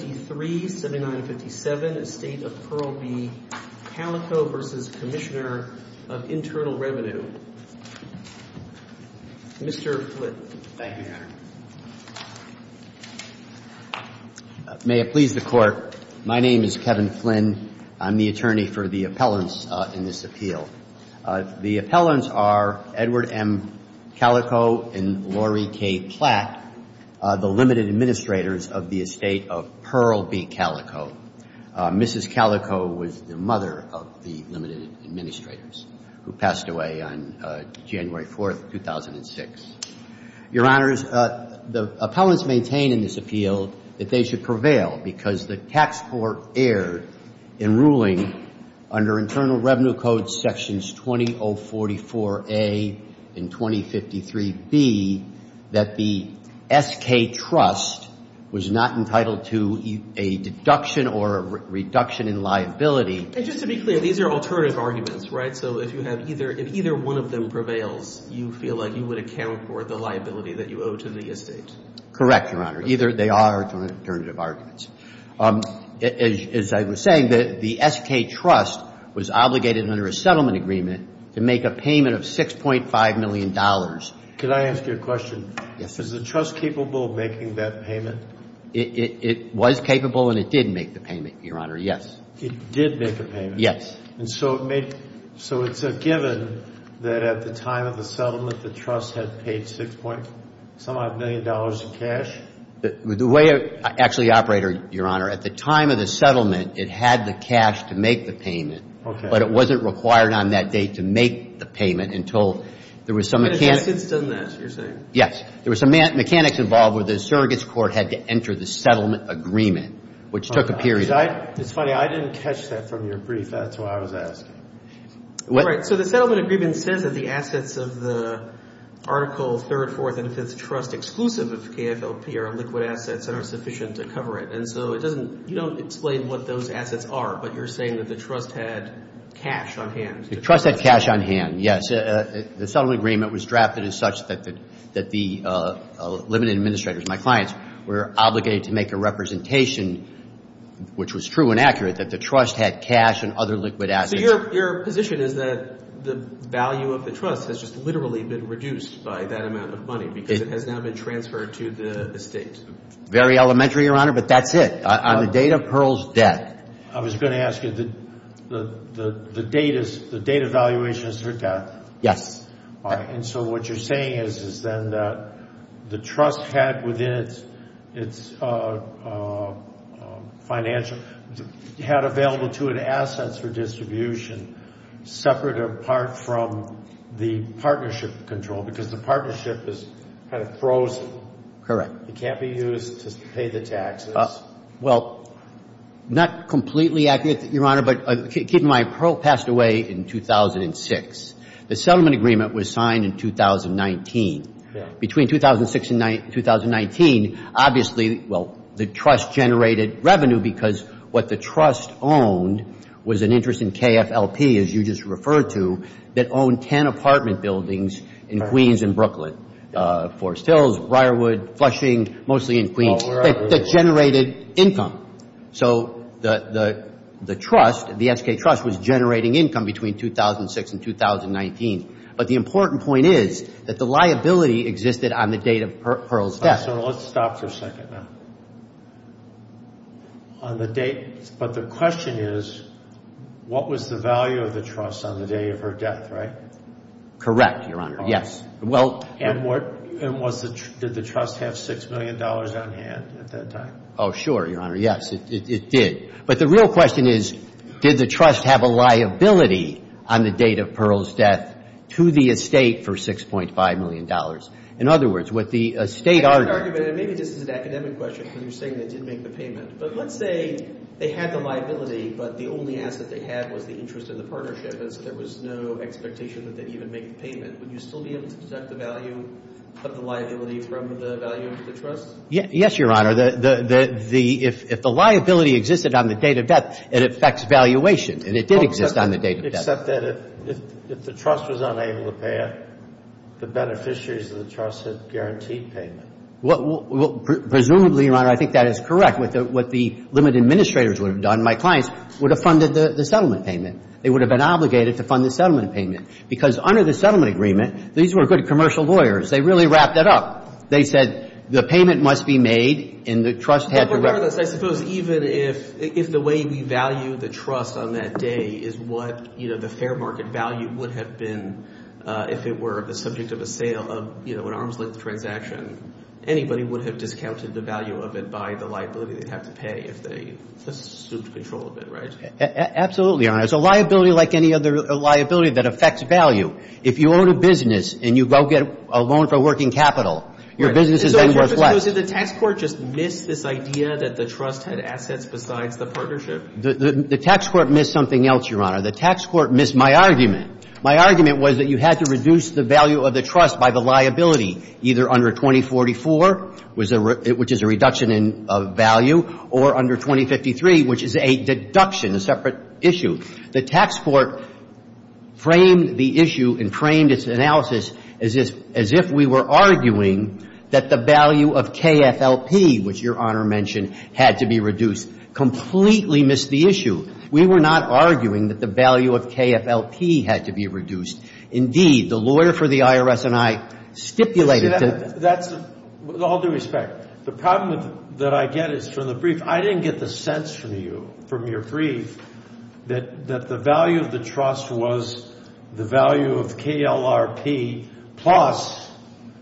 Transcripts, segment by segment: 7953, 7957, Estate of Pearl B. Kalikow v. Commissioner of Internal Revenue, Mr. Flynn. Thank you, Your Honor. May it please the Court, my name is Kevin Flynn. I'm the attorney for the appellants in this appeal. The appellants are Edward M. Kalikow and Lori K. Platt, the limited administrators of the Estate of Pearl B. Kalikow. Mrs. Kalikow was the mother of the limited administrators who passed away on January 4th, 2006. Your Honors, the appellants maintain in this appeal that they should prevail because the tax court erred in ruling under Internal Revenue Code Sections 2044A and 2053B that the S.K. Trust was not entitled to a deduction or a reduction in liability. And just to be clear, these are alternative arguments, right? So if you have either – if either one of them prevails, you feel like you would account for the liability that you owe to the Estate? Correct, Your Honor. Either they are alternative arguments. As I was saying, the S.K. Trust was obligated under a settlement agreement to make a payment of $6.5 million. Could I ask you a question? Yes, sir. Is the Trust capable of making that payment? It was capable and it did make the payment, Your Honor, yes. It did make the payment? Yes. And so it made – so it's a given that at the time of the settlement, the Trust had paid $6.5 million in cash? The way it actually operated, Your Honor, at the time of the settlement, it had the cash to make the payment. Okay. But it wasn't required on that date to make the payment until there was some mechanics – Assets doesn't ask, you're saying? Yes. There was some mechanics involved where the surrogates court had to enter the settlement agreement, which took a period. It's funny. I didn't catch that from your brief. That's why I was asking. All right. So the settlement agreement says that the assets of the Article 3rd, 4th, and 5th Trust exclusive of KFLP are liquid assets that are sufficient to cover it. And so it doesn't – you don't explain what those assets are, but you're saying that the Trust had cash on hand? The Trust had cash on hand, yes. The settlement agreement was drafted as such that the limited administrators, my clients, were obligated to make a representation, which was true and accurate, that the Trust had cash and other liquid assets. So your position is that the value of the Trust has just literally been reduced by that amount of money because it has now been transferred to the estate? Very elementary, Your Honor, but that's it. On the date of Pearl's death – I was going to ask you, the date of valuation is her death? Yes. And so what you're saying is then that the Trust had within its financial – had available to it assets for distribution separate apart from the partnership control because the partnership is kind of frozen. Correct. It can't be used to pay the taxes. Well, not completely accurate, Your Honor, but keep in mind, Pearl passed away in 2006. The settlement agreement was signed in 2019. Between 2006 and 2019, obviously, well, the Trust generated revenue because what the Trust owned was an interest in KFLP, as you just referred to, that owned 10 apartment buildings in Queens and Brooklyn, Forest Hills, Briarwood, Flushing, mostly in Queens. That generated income. So the Trust, the S.K. Trust, was generating income between 2006 and 2019. But the important point is that the liability existed on the date of Pearl's death. So let's stop for a second now. On the date – but the question is what was the value of the Trust on the day of her death, right? Correct, Your Honor, yes. And did the Trust have $6 million on hand at that time? Oh, sure, Your Honor. Yes, it did. But the real question is did the Trust have a liability on the date of Pearl's death to the estate for $6.5 million? In other words, what the estate argument – Maybe this is an academic question because you're saying they didn't make the payment. But let's say they had the liability, but the only asset they had was the interest in the partnership, and so there was no expectation that they'd even make the payment. Would you still be able to detect the value of the liability from the value of the Trust? Yes, Your Honor. If the liability existed on the date of death, it affects valuation. And it did exist on the date of death. Except that if the Trust was unable to pay it, the beneficiaries of the Trust had guaranteed payment. Presumably, Your Honor, I think that is correct. What the limit administrators would have done, my clients, would have funded the settlement payment. They would have been obligated to fund the settlement payment because under the settlement agreement, these were good commercial lawyers. They really wrapped that up. They said the payment must be made and the Trust had to – But regardless, I suppose even if the way we value the Trust on that day is what, you know, the fair market value would have been if it were the subject of a sale of, you know, an arms-length transaction, anybody would have discounted the value of it by the liability they'd have to pay if they assumed control of it, right? Absolutely, Your Honor. It's a liability like any other liability that affects value. If you own a business and you go get a loan for a working capital, your business is then worth less. So I suppose did the tax court just miss this idea that the Trust had assets besides the partnership? The tax court missed something else, Your Honor. The tax court missed my argument. My argument was that you had to reduce the value of the Trust by the liability, either under 2044, which is a reduction in value, or under 2053, which is a deduction, a separate issue. The tax court framed the issue and framed its analysis as if we were arguing that the value of KFLP, which Your Honor mentioned, had to be reduced. Completely missed the issue. We were not arguing that the value of KFLP had to be reduced. Indeed, the lawyer for the IRS and I stipulated to – See, that's – with all due respect, the problem that I get is from the brief. I didn't get the sense from you, from your brief, that the value of the Trust was the value of KLRP plus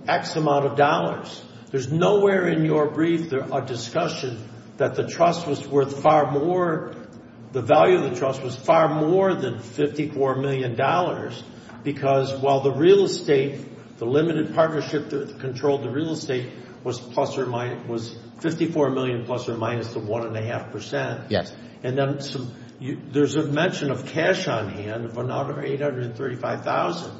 X amount of dollars. There's nowhere in your brief or discussion that the Trust was worth far more – the value of the Trust was far more than $54 million because while the real estate, the limited partnership that controlled the real estate was 54 million plus or minus the 1.5%. Yes. And then there's a mention of cash on hand of another $835,000,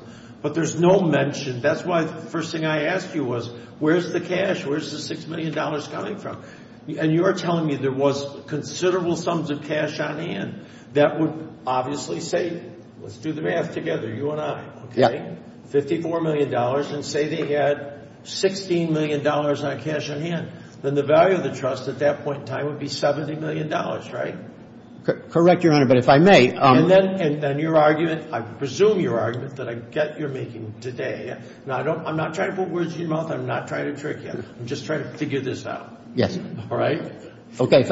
but there's no mention. That's why the first thing I asked you was, where's the cash? Where's the $6 million coming from? And you're telling me there was considerable sums of cash on hand that would obviously say, let's do the math together, you and I, okay? $54 million and say they had $16 million on cash on hand. Then the value of the Trust at that point in time would be $70 million, right? Correct, Your Honor, but if I may – And then your argument – I presume your argument that I get you're making today. Now, I'm not trying to put words in your mouth. I'm not trying to trick you. I'm just trying to figure this out. Yes. All right? Okay.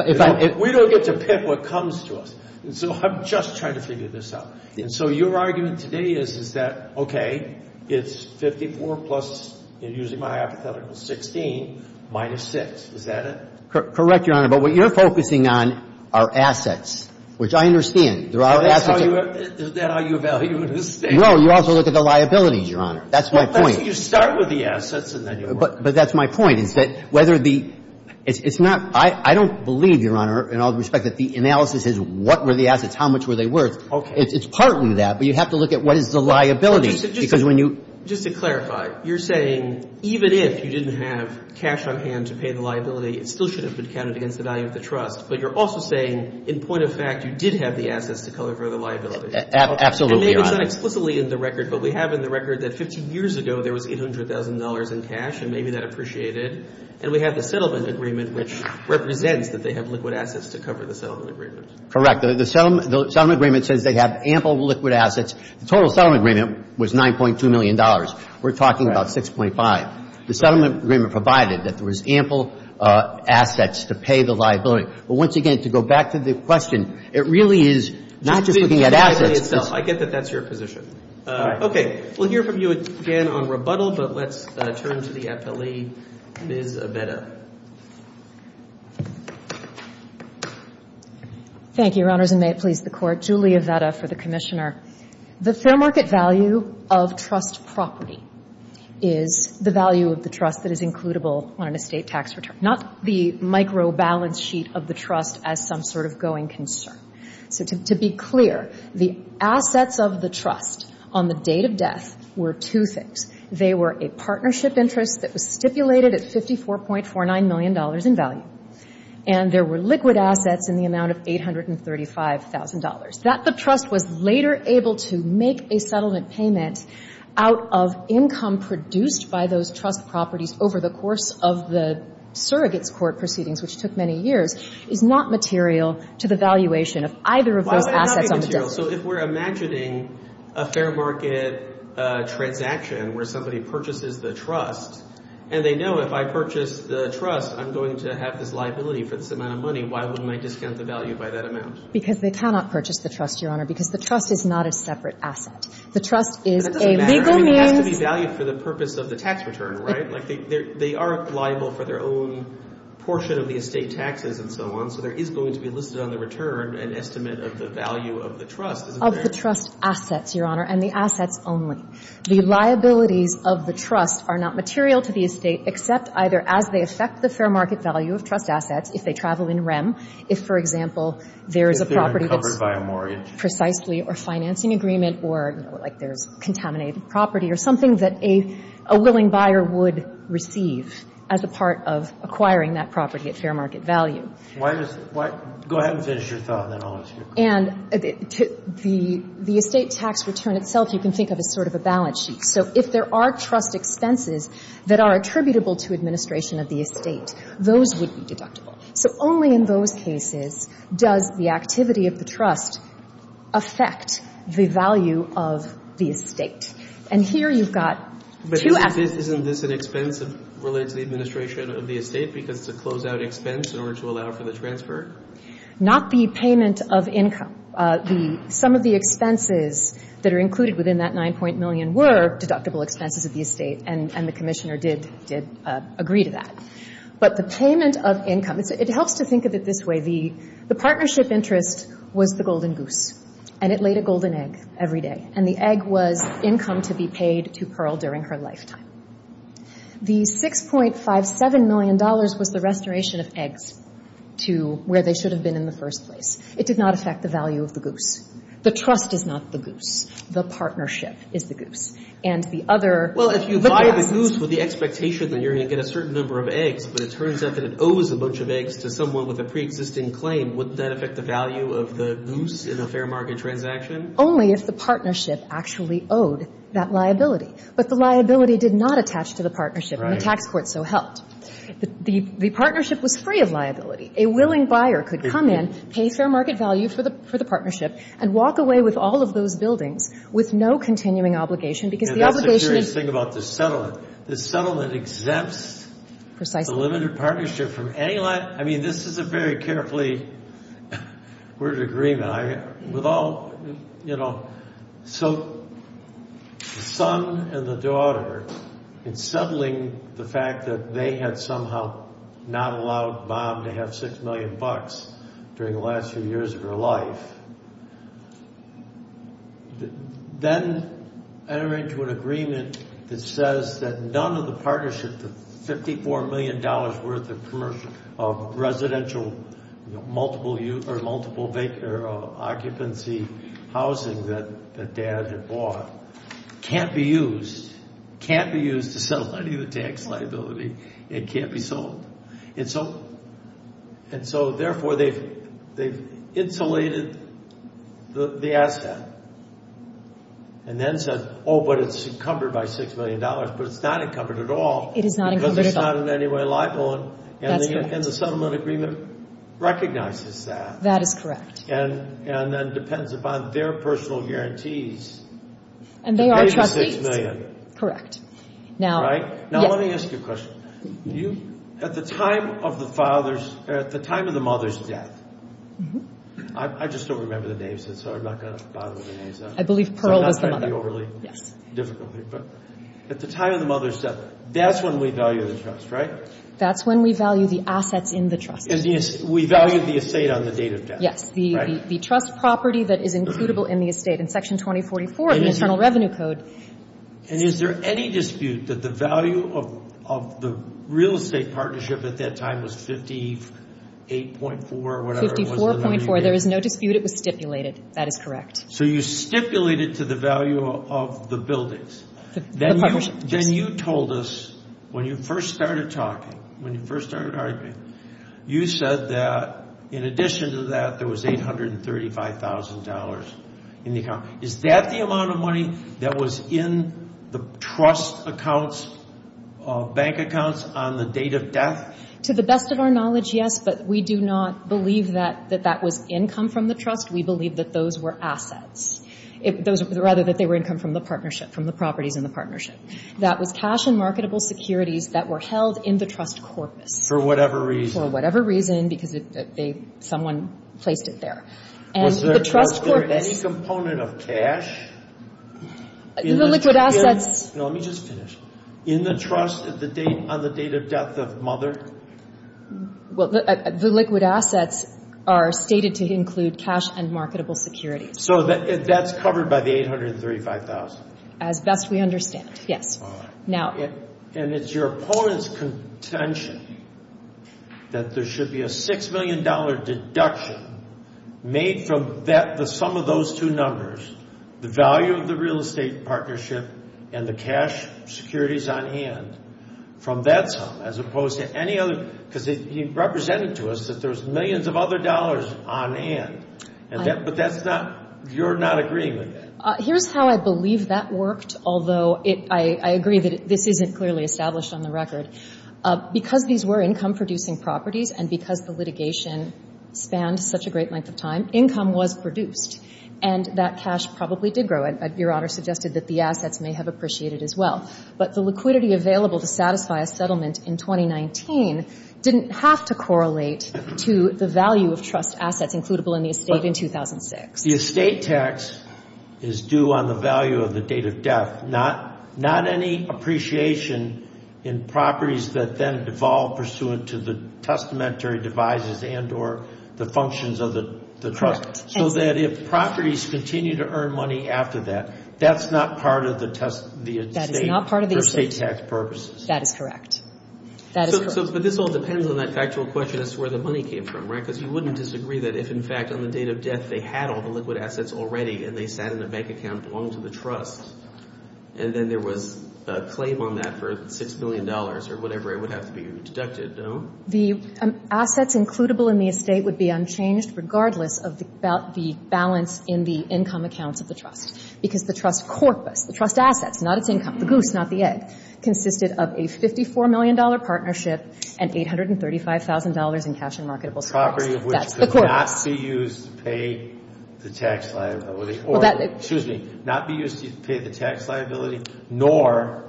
We don't get to pick what comes to us, and so I'm just trying to figure this out. And so your argument today is, is that, okay, it's 54 plus, using my hypothetical, 16 minus 6. Is that it? Correct, Your Honor, but what you're focusing on are assets, which I understand. There are assets – So that's how you – is that how you evaluate a state? No. You also look at the liabilities, Your Honor. That's my point. Well, that's – you start with the assets, and then you work – But that's my point, is that whether the – it's not – I don't believe, Your Honor, in all respect, that the analysis is what were the assets, how much were they worth. Okay. It's partly that, but you have to look at what is the liability, because when you – Just to clarify, you're saying, even if you didn't have cash on hand to pay the liability, it still should have been counted against the value of the trust, but you're also saying, in point of fact, you did have the assets to cover the liability. Absolutely, Your Honor. And maybe it's not explicitly in the record, but we have in the record that 15 years ago, there was $800,000 in cash, and maybe that appreciated. And we have the settlement agreement, which represents that they have liquid assets to cover the settlement agreement. Correct. The settlement agreement says they have ample liquid assets. The total settlement agreement was $9.2 million. We're talking about 6.5. The settlement agreement provided that there was ample assets to pay the liability. But once again, to go back to the question, it really is not just looking at assets. I get that that's your position. Okay. We'll hear from you again on rebuttal, but let's turn to the appellee, Ms. Avetta. Thank you, Your Honors, and may it please the Court. Julie Avetta for the Commissioner. The fair market value of trust property is the value of the trust that is includable on an estate tax return, not the microbalance sheet of the trust as some sort of going concern. So to be clear, the assets of the trust on the date of death were two things. They were a partnership interest that was stipulated at $54.49 million in value, and there were liquid assets in the amount of $835,000. That the trust was later able to make a settlement payment out of income produced by those trust properties over the course of the surrogates' court proceedings, which took many years, is not material to the valuation of either of those assets on the date. So if we're imagining a fair market transaction where somebody purchases the trust and they know if I purchase the trust, I'm going to have this liability for this amount of money, why wouldn't I discount the value by that amount? Because they cannot purchase the trust, Your Honor, because the trust is not a separate asset. The trust is a legal means. It doesn't matter. I mean, it has to be valued for the purpose of the tax return, right? Like, they are liable for their own portion of the estate taxes and so on, so there is going to be listed on the return an estimate of the value of the trust, isn't there? Of the trust assets, Your Honor, and the assets only. The liabilities of the trust are not material to the estate except either as they affect the fair market value of trust assets, if they travel in rem, if, for example, there is a property that's — If they're uncovered by a mortgage. Precisely, or financing agreement, or, you know, like there's contaminated property or something that a willing buyer would receive as a part of acquiring that property at fair market value. Why does — go ahead and finish your thought, and then I'll ask you. And the estate tax return itself you can think of as sort of a balance sheet. So if there are trust expenses that are attributable to administration of the estate, those would be deductible. So only in those cases does the activity of the trust affect the value of the estate. And here you've got two assets. But isn't this an expense related to the administration of the estate because it's a closeout expense in order to allow for the transfer? Not the payment of income. The — some of the expenses that are included within that 9-point million were deductible expenses of the estate, and the Commissioner did agree to that. But the payment of income, it helps to think of it this way. The partnership interest was the golden goose, and it laid a golden egg every day. And the egg was income to be paid to Pearl during her lifetime. The $6.57 million was the restoration of eggs to where they should have been in the first place. It did not affect the value of the goose. The trust is not the goose. The partnership is the goose. And the other — Well, if you buy the goose with the expectation that you're going to get a certain number of eggs, but it turns out that it owes a bunch of eggs to someone with a preexisting claim, wouldn't that affect the value of the goose in a fair market transaction? Only if the partnership actually owed that liability. But the liability did not attach to the partnership, and the tax court so helped. The partnership was free of liability. A willing buyer could come in, pay fair market value for the partnership, and walk away with all of those buildings with no continuing obligation because the obligation is — And that's the curious thing about the settlement. The settlement exempts — Precisely. — the limited partnership from any — I mean, this is a very carefully — we're in agreement. And I — with all — you know, so the son and the daughter, in settling the fact that they had somehow not allowed Bob to have $6 million during the last few years of her life, then enter into an agreement that says that none of the partnership, the $54 million worth of commercial — of residential multiple-use or multiple-vacant or occupancy housing that dad had bought can't be used, can't be used to settle any of the tax liability. It can't be sold. And so therefore they've insulated the asset. And then said, oh, but it's encumbered by $6 million. But it's not encumbered at all. It is not encumbered at all. Because it's not in any way liable. That's correct. And the settlement agreement recognizes that. That is correct. And then depends upon their personal guarantees. And they are trustees. $86 million. Correct. Now — Right? Now let me ask you a question. At the time of the father's — at the time of the mother's death — I just don't remember the names, so I'm not going to bother with the names. I believe Pearl was the mother. So I'm not going to be overly difficult. But at the time of the mother's death, that's when we value the trust, right? That's when we value the assets in the trust. We value the estate on the date of death. Yes. Right. The trust property that is includable in the estate. In Section 2044 of the Internal Revenue Code — And is there any dispute that the value of the real estate partnership at that time was 58.4 or whatever it was? 54.4. There is no dispute. It was stipulated. That is correct. So you stipulated to the value of the buildings. Yes. Then you told us when you first started talking, when you first started arguing, you said that in addition to that there was $835,000 in the account. Is that the amount of money that was in the trust accounts, bank accounts, on the date of death? To the best of our knowledge, yes. But we do not believe that that was income from the trust. We believe that those were assets. Rather, that they were income from the partnership, from the properties in the partnership. That was cash and marketable securities that were held in the trust corpus. For whatever reason. For whatever reason, because someone placed it there. Was there any component of cash? The liquid assets — No, let me just finish. In the trust on the date of death of mother? Well, the liquid assets are stated to include cash and marketable securities. So that's covered by the $835,000? As best we understand, yes. All right. And it's your opponent's contention that there should be a $6 million deduction made from the sum of those two numbers, the value of the real estate partnership and the cash securities on hand, from that sum, as opposed to any other? Because he represented to us that there's millions of other dollars on hand. But that's not — you're not agreeing with that? Here's how I believe that worked, although I agree that this isn't clearly established on the record. Because these were income-producing properties, and because the litigation spanned such a great length of time, income was produced. And that cash probably did grow. Your Honor suggested that the assets may have appreciated as well. But the liquidity available to satisfy a settlement in 2019 didn't have to correlate to the value of trust assets includable in the estate in 2006. The estate tax is due on the value of the date of death, not any appreciation in properties that then devolve pursuant to the testamentary devices and or the functions of the trust. So that if properties continue to earn money after that, that's not part of the estate for estate tax purposes? That is correct. That is correct. But this all depends on that factual question as to where the money came from, right? Because you wouldn't disagree that if, in fact, on the date of death, they had all the liquid assets already and they sat in a bank account and belonged to the trust, and then there was a claim on that for $6 million or whatever, it would have to be rededucted, no? The assets includable in the estate would be unchanged regardless of the balance in the income accounts of the trust, because the trust corpus, the trust assets, not its income, the goose, not the egg, consisted of a $54 million partnership and $835,000 in cash and marketable stocks. Property of which could not be used to pay the tax liability or, excuse me, not be used to pay the tax liability nor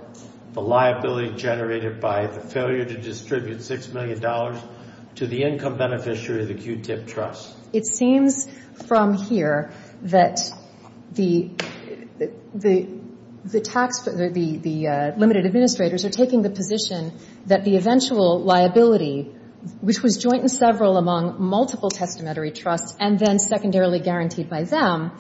the liability generated by the failure to distribute $6 million to the income beneficiary of the Q-tip trust. It seems from here that the tax, the limited administrators are taking the position that the eventual liability, which was joint and several among multiple testamentary trusts and then secondarily guaranteed by them,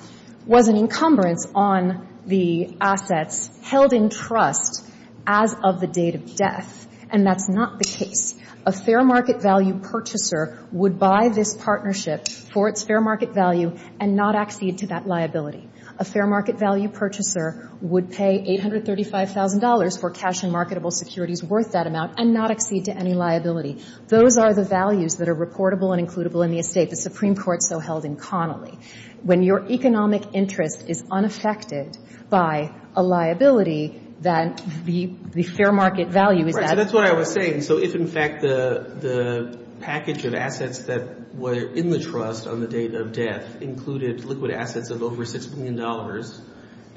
was an encumbrance on the assets held in trust as of the date of death, and that's not the case. A fair market value purchaser would buy this partnership for its fair market value and not accede to that liability. A fair market value purchaser would pay $835,000 for cash and marketable securities worth that amount and not accede to any liability. Those are the values that are reportable and includable in the estate, the Supreme Court so held in Connolly. When your economic interest is unaffected by a liability, then the fair market value is added. So that's what I was saying. So if, in fact, the package of assets that were in the trust on the date of death included liquid assets of over $6 million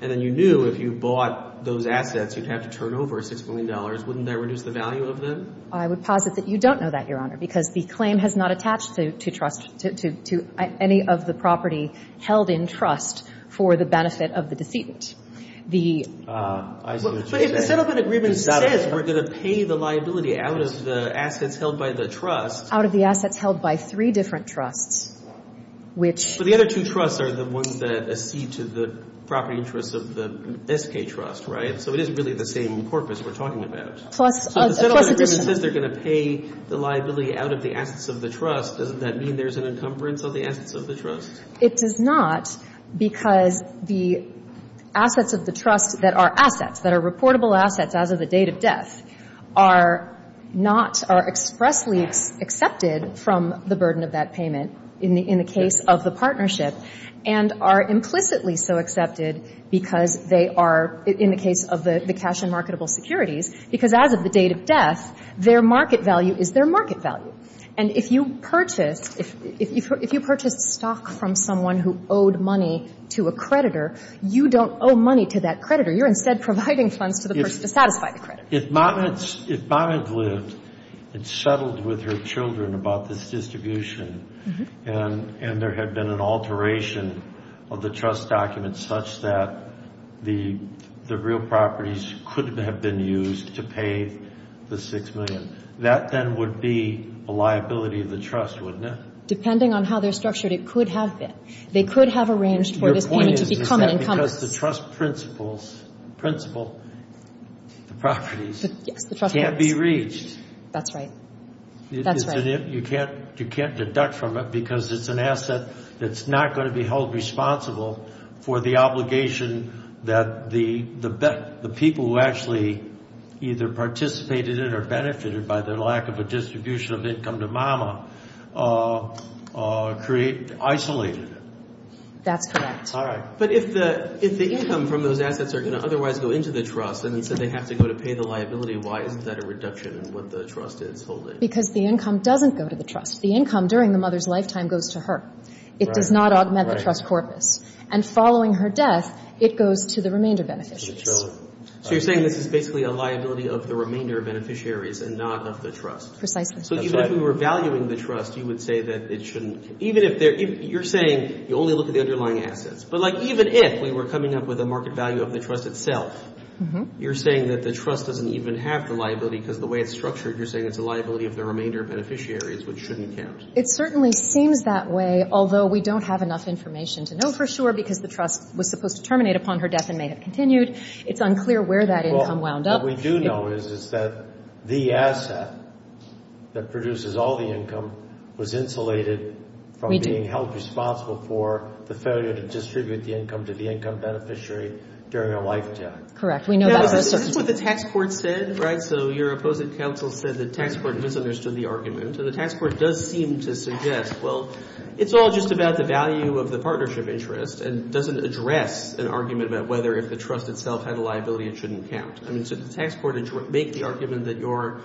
and then you knew if you bought those assets you'd have to turn over $6 million, wouldn't that reduce the value of them? I would posit that you don't know that, Your Honor, because the claim has not attached to trust to any of the property held in trust for the benefit of the decedent. But if the settlement agreement says we're going to pay the liability out of the assets held by the trust. Out of the assets held by three different trusts, which. But the other two trusts are the ones that accede to the property interests of the SK Trust, right? So it isn't really the same corpus we're talking about. So the settlement agreement says they're going to pay the liability out of the assets of the trust. Doesn't that mean there's an encumbrance of the assets of the trust? It does not because the assets of the trust that are assets, that are reportable assets as of the date of death, are not, are expressly accepted from the burden of that payment in the case of the partnership and are implicitly so accepted because they are, in the case of the cash and marketable securities, because as of the date of death, their market value is their market value. And if you purchased, if you purchased stock from someone who owed money to a creditor, you don't owe money to that creditor. You're instead providing funds to the person to satisfy the creditor. If Monette lived and settled with her children about this distribution and there had been an alteration of the trust documents such that the real properties could have been used to pay the $6 million, that then would be a liability of the trust, wouldn't it? Depending on how they're structured, it could have been. They could have arranged for this payment to become an encumbrance. Your point is, is that because the trust principles, principle, the properties can't be reached. That's right. That's right. You can't deduct from it because it's an asset that's not going to be held responsible for the obligation that the people who actually either participated in it or benefited by their lack of a distribution of income to Mama create, isolated it. That's correct. All right. But if the income from those assets are going to otherwise go into the trust and instead they have to go to pay the liability, why isn't that a reduction in what the trust is holding? Because the income doesn't go to the trust. The income during the mother's lifetime goes to her. It does not augment the trust corpus. And following her death, it goes to the remainder beneficiaries. So you're saying this is basically a liability of the remainder beneficiaries and not of the trust. Precisely. That's right. So even if we were valuing the trust, you would say that it shouldn't. You're saying you only look at the underlying assets. But, like, even if we were coming up with a market value of the trust itself, you're saying that the trust doesn't even have the liability because the way it's structured, you're saying it's a liability of the remainder beneficiaries, which shouldn't count. It certainly seems that way, although we don't have enough information to know for sure because the trust was supposed to terminate upon her death and may have continued. It's unclear where that income wound up. What we do know is, is that the asset that produces all the income was insulated from being held responsible for the failure to distribute the income to the income beneficiary during her lifetime. Correct. We know that. Is this what the tax court said? Right? So your opposing counsel said the tax court misunderstood the argument. And the tax court does seem to suggest, well, it's all just about the value of the partnership interest and doesn't address an argument about whether if the trust itself had a liability, it shouldn't count. I mean, did the tax court make the argument that you're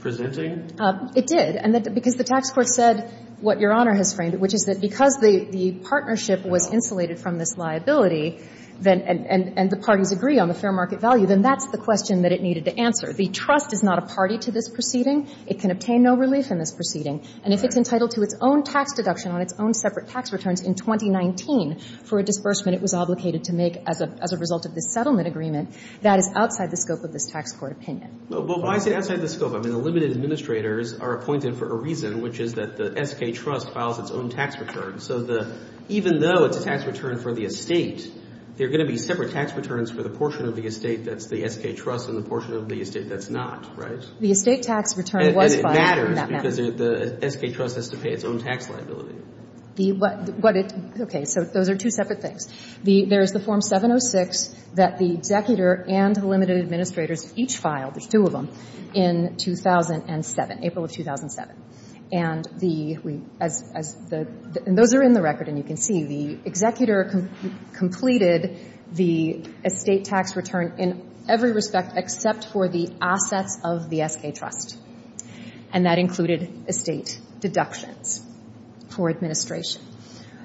presenting? It did. And because the tax court said what Your Honor has framed, which is that because the partnership was insulated from this liability and the parties agree on the fair market value, then that's the question that it needed to answer. The trust is not a party to this proceeding. It can obtain no relief in this proceeding. And if it's entitled to its own tax deduction on its own separate tax returns in 2019 for a disbursement it was obligated to make as a result of this settlement agreement, that is outside the scope of this tax court opinion. Well, why is it outside the scope? I mean, the limited administrators are appointed for a reason, which is that the S.K. Trust files its own tax return. So even though it's a tax return for the estate, there are going to be separate tax returns for the portion of the estate that's the S.K. Trust and the portion of the estate that's not, right? The estate tax return was filed. And it matters because the S.K. Trust has to pay its own tax liability. Okay. So those are two separate things. There's the Form 706 that the executor and the limited administrators each filed, there's two of them, in 2007, April of 2007. And those are in the record and you can see. The executor completed the estate tax return in every respect except for the assets of the S.K. Trust. And that included estate deductions for administration.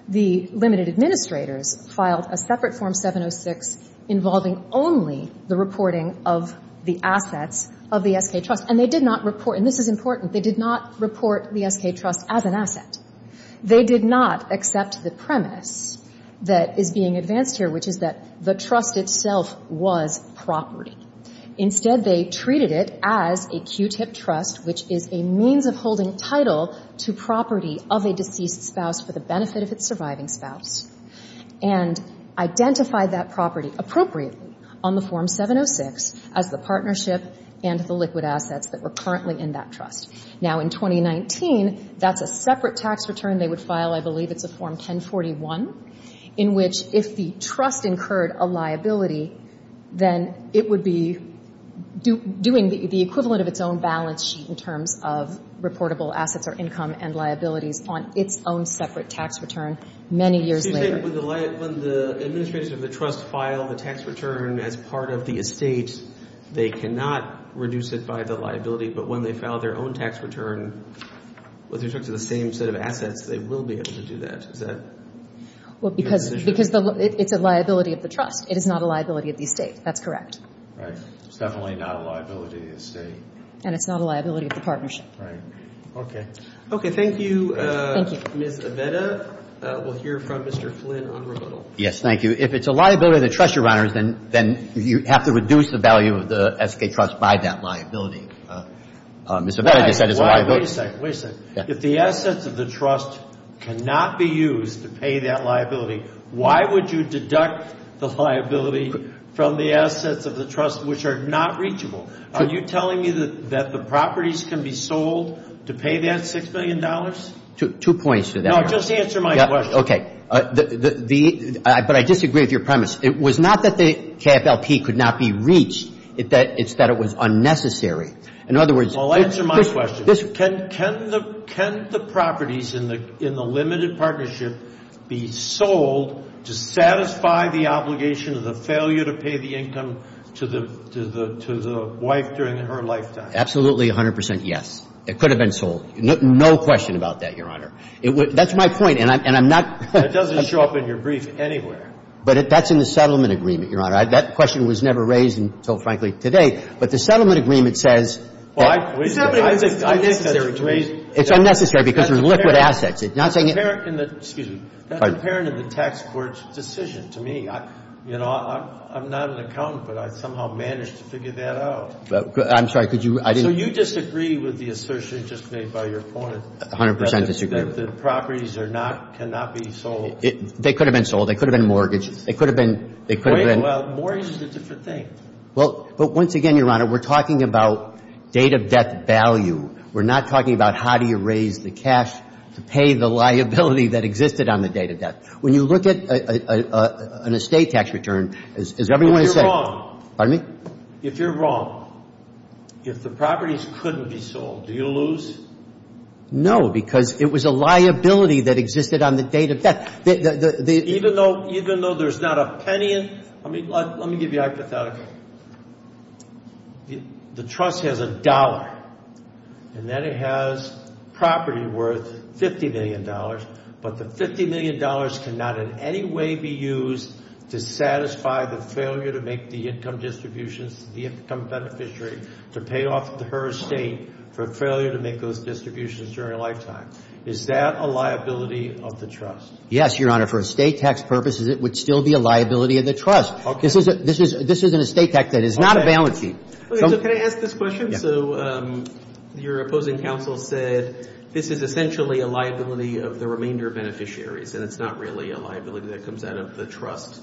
The limited administrators filed a separate Form 706 involving only the reporting of the assets of the S.K. Trust. And they did not report, and this is important, they did not report the S.K. Trust as an asset. They did not accept the premise that is being advanced here, which is that the trust itself was property. Instead, they treated it as a Q-tip trust, which is a means of holding title to property of a deceased spouse for the benefit of its surviving spouse, and identified that property appropriately on the Form 706 as the partnership and the liquid assets that were currently in that trust. Now, in 2019, that's a separate tax return they would file. I believe it's a Form 1041, in which if the trust incurred a liability, then it would be doing the equivalent of its own balance sheet in terms of reportable assets or income and liabilities on its own separate tax return many years later. When the administration of the trust filed a tax return as part of the estate, they cannot reduce it by the liability, but when they file their own tax return, whether it's up to the same set of assets, they will be able to do that. Is that your position? Well, because it's a liability of the trust. It is not a liability of the estate. That's correct. It's definitely not a liability of the estate. And it's not a liability of the partnership. Right. Okay. Okay. Thank you, Ms. Aveda. We'll hear from Mr. Flynn on rebuttal. Yes, thank you. If it's a liability of the trust, Your Honors, then you have to reduce the value of the estate trust by that liability. Ms. Aveda said it's a liability. Wait a second. Wait a second. If the assets of the trust cannot be used to pay that liability, why would you deduct the liability from the assets of the trust, which are not reachable? Are you telling me that the properties can be sold to pay that $6 million? Two points to that. No, just answer my question. Okay. But I disagree with your premise. It was not that the KFLP could not be reached. It's that it was unnecessary. In other words – Well, answer my question. Can the properties in the limited partnership be sold to satisfy the obligation of the failure to pay the income to the wife during her lifetime? Absolutely 100 percent yes. It could have been sold. No question about that, Your Honor. That's my point. And I'm not – That doesn't show up in your brief anywhere. But that's in the settlement agreement, Your Honor. That question was never raised until, frankly, today. But the settlement agreement says – It's unnecessary because they're liquid assets. It's not saying – Excuse me. That's apparent in the tax court's decision to me. You know, I'm not an accountant, but I somehow managed to figure that out. I'm sorry. Could you – So you disagree with the assertion just made by your opponent? 100 percent disagree. That the properties are not – cannot be sold? They could have been sold. They could have been mortgaged. They could have been – Wait. Well, mortgage is a different thing. But once again, Your Honor, we're talking about date of death value. We're not talking about how do you raise the cash to pay the liability that existed on the date of death. When you look at an estate tax return, as everyone has said – But you're wrong. Pardon me? If you're wrong, if the properties couldn't be sold, do you lose? No, because it was a liability that existed on the date of death. Even though there's not a penny in – Let me give you a hypothetical. The trust has a dollar, and then it has property worth $50 million, but the $50 million cannot in any way be used to satisfy the failure to make the income distributions, the income beneficiary to pay off her estate for failure to make those distributions during a lifetime. Is that a liability of the trust? Yes, Your Honor. For estate tax purposes, it would still be a liability of the trust. Okay. This is an estate tax that is not a balance sheet. So can I ask this question? Yeah. So your opposing counsel said this is essentially a liability of the remainder beneficiaries, and it's not really a liability that comes out of the trust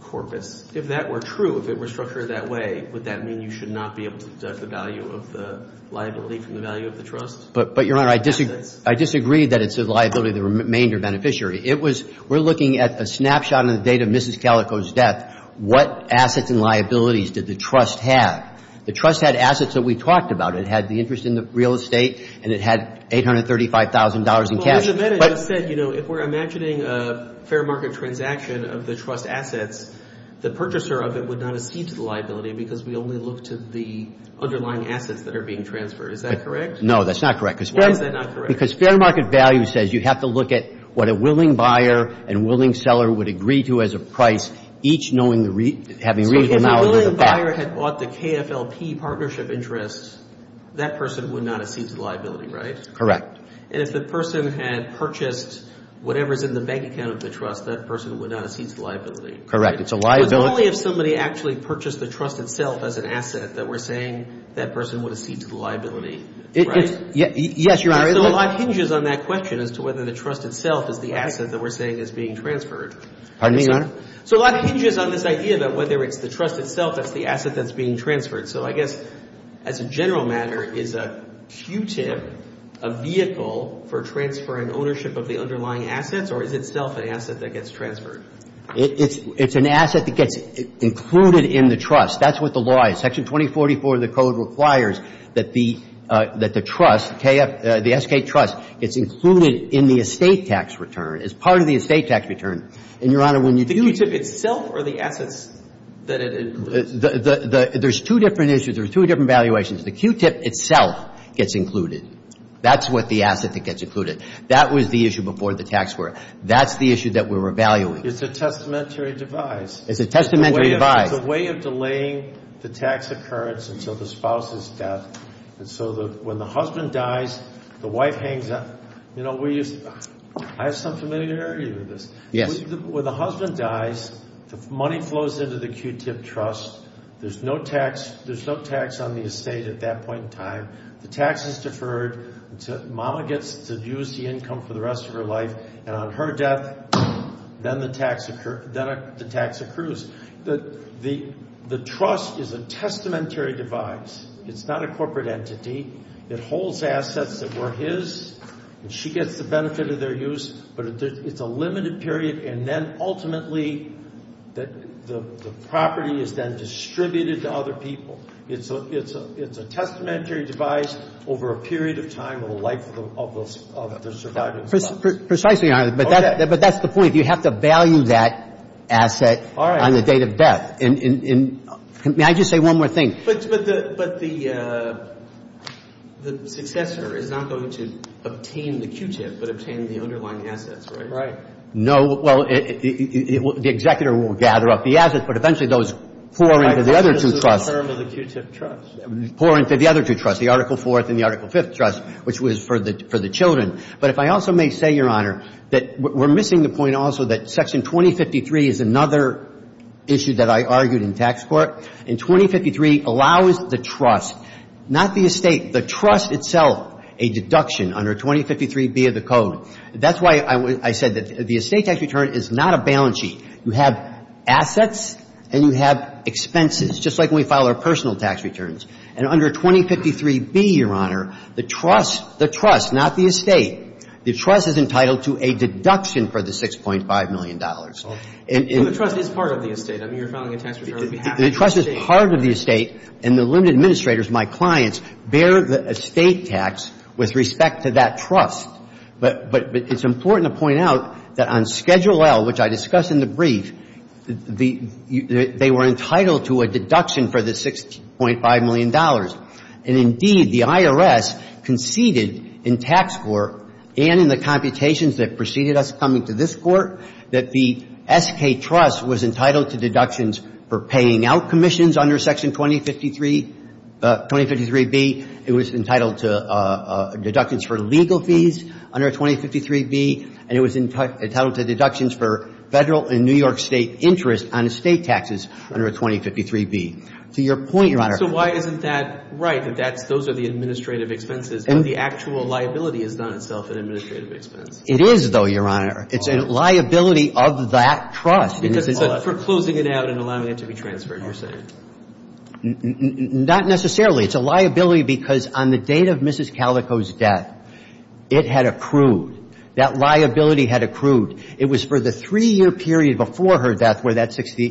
corpus. If that were true, if it were structured that way, would that mean you should not be able to deduct the value of the liability from the value of the trust? But, Your Honor, I disagree that it's a liability of the remainder beneficiary. It was – we're looking at a snapshot in the date of Mrs. Calico's death. What assets and liabilities did the trust have? The trust had assets that we talked about. It had the interest in the real estate, and it had $835,000 in cash. Well, Ms. Amedda just said, you know, if we're imagining a fair market transaction of the trust assets, the purchaser of it would not accede to the liability because we only look to the underlying assets that are being transferred. Is that correct? No, that's not correct. Why is that not correct? Because fair market value says you have to look at what a willing buyer and willing seller would agree to as a price, each knowing the – having reasonable knowledge of the fact. So if a willing buyer had bought the KFLP partnership interest, that person would not accede to the liability, right? Correct. And if the person had purchased whatever's in the bank account of the trust, that person would not accede to the liability. Correct. It's a liability. It's only if somebody actually purchased the trust itself as an asset that we're saying that person would accede to the liability. Right? Yes, Your Honor. So a lot hinges on that question as to whether the trust itself is the asset that we're saying is being transferred. Pardon me, Your Honor? So a lot hinges on this idea that whether it's the trust itself that's the asset that's being transferred. So I guess as a general matter, is a QTIP a vehicle for transferring ownership of the underlying assets, or is itself an asset that gets transferred? It's an asset that gets included in the trust. That's what the law is. Section 2044 of the Code requires that the trust, the SK trust, is included in the estate tax return, as part of the estate tax return. And, Your Honor, when you do – The QTIP itself or the assets that it includes? There's two different issues. There's two different valuations. The QTIP itself gets included. That's what the asset that gets included. That was the issue before the tax court. That's the issue that we're evaluating. It's a testamentary device. It's a testamentary device. It's a way of delaying the tax occurrence until the spouse's death. And so when the husband dies, the wife hangs up. You know, I have some familiarity with this. Yes. When the husband dies, the money flows into the QTIP trust. There's no tax on the estate at that point in time. The tax is deferred until mama gets to use the income for the rest of her life. And on her death, then the tax accrues. The trust is a testamentary device. It's not a corporate entity. It holds assets that were his, and she gets the benefit of their use. But it's a limited period. And then, ultimately, the property is then distributed to other people. It's a testamentary device over a period of time of the life of the surviving spouse. Precisely, Your Honor. But that's the point. You have to value that asset on the date of death. May I just say one more thing? But the successor is not going to obtain the QTIP, but obtain the underlying assets, right? Right. No. Well, the executor will gather up the assets, but eventually those pour into the other two trusts. This is the term of the QTIP trust. Pour into the other two trusts, the Article IV and the Article V trust, which was for the children. But if I also may say, Your Honor, that we're missing the point also that Section 2053 is another issue that I argued in tax court. And 2053 allows the trust, not the estate, the trust itself, a deduction under 2053B of the Code. That's why I said that the estate tax return is not a balance sheet. You have assets and you have expenses, just like when we file our personal tax returns. And under 2053B, Your Honor, the trust, the trust, not the estate, the trust is entitled to a deduction for the $6.5 million. Well, the trust is part of the estate. I mean, you're filing a tax return on behalf of the estate. The trust is part of the estate, and the limited administrators, my clients, bear the estate tax with respect to that trust. But it's important to point out that on Schedule L, which I discuss in the brief, they were entitled to a deduction for the $6.5 million. And indeed, the IRS conceded in tax court and in the computations that preceded us coming to this Court that the SK Trust was entitled to deductions for paying out commissions under Section 2053, 2053B. It was entitled to deductions for legal fees under 2053B, and it was entitled to deductions for Federal and New York State interest on estate taxes under 2053B. To your point, Your Honor. So why isn't that right, that those are the administrative expenses, and the actual liability is not itself an administrative expense? It is, though, Your Honor. It's a liability of that trust. Because it's for closing it out and allowing it to be transferred, you're saying. Not necessarily. It's a liability because on the date of Mrs. Calico's death, it had accrued. That liability had accrued. It was for the three-year period before her death where that 60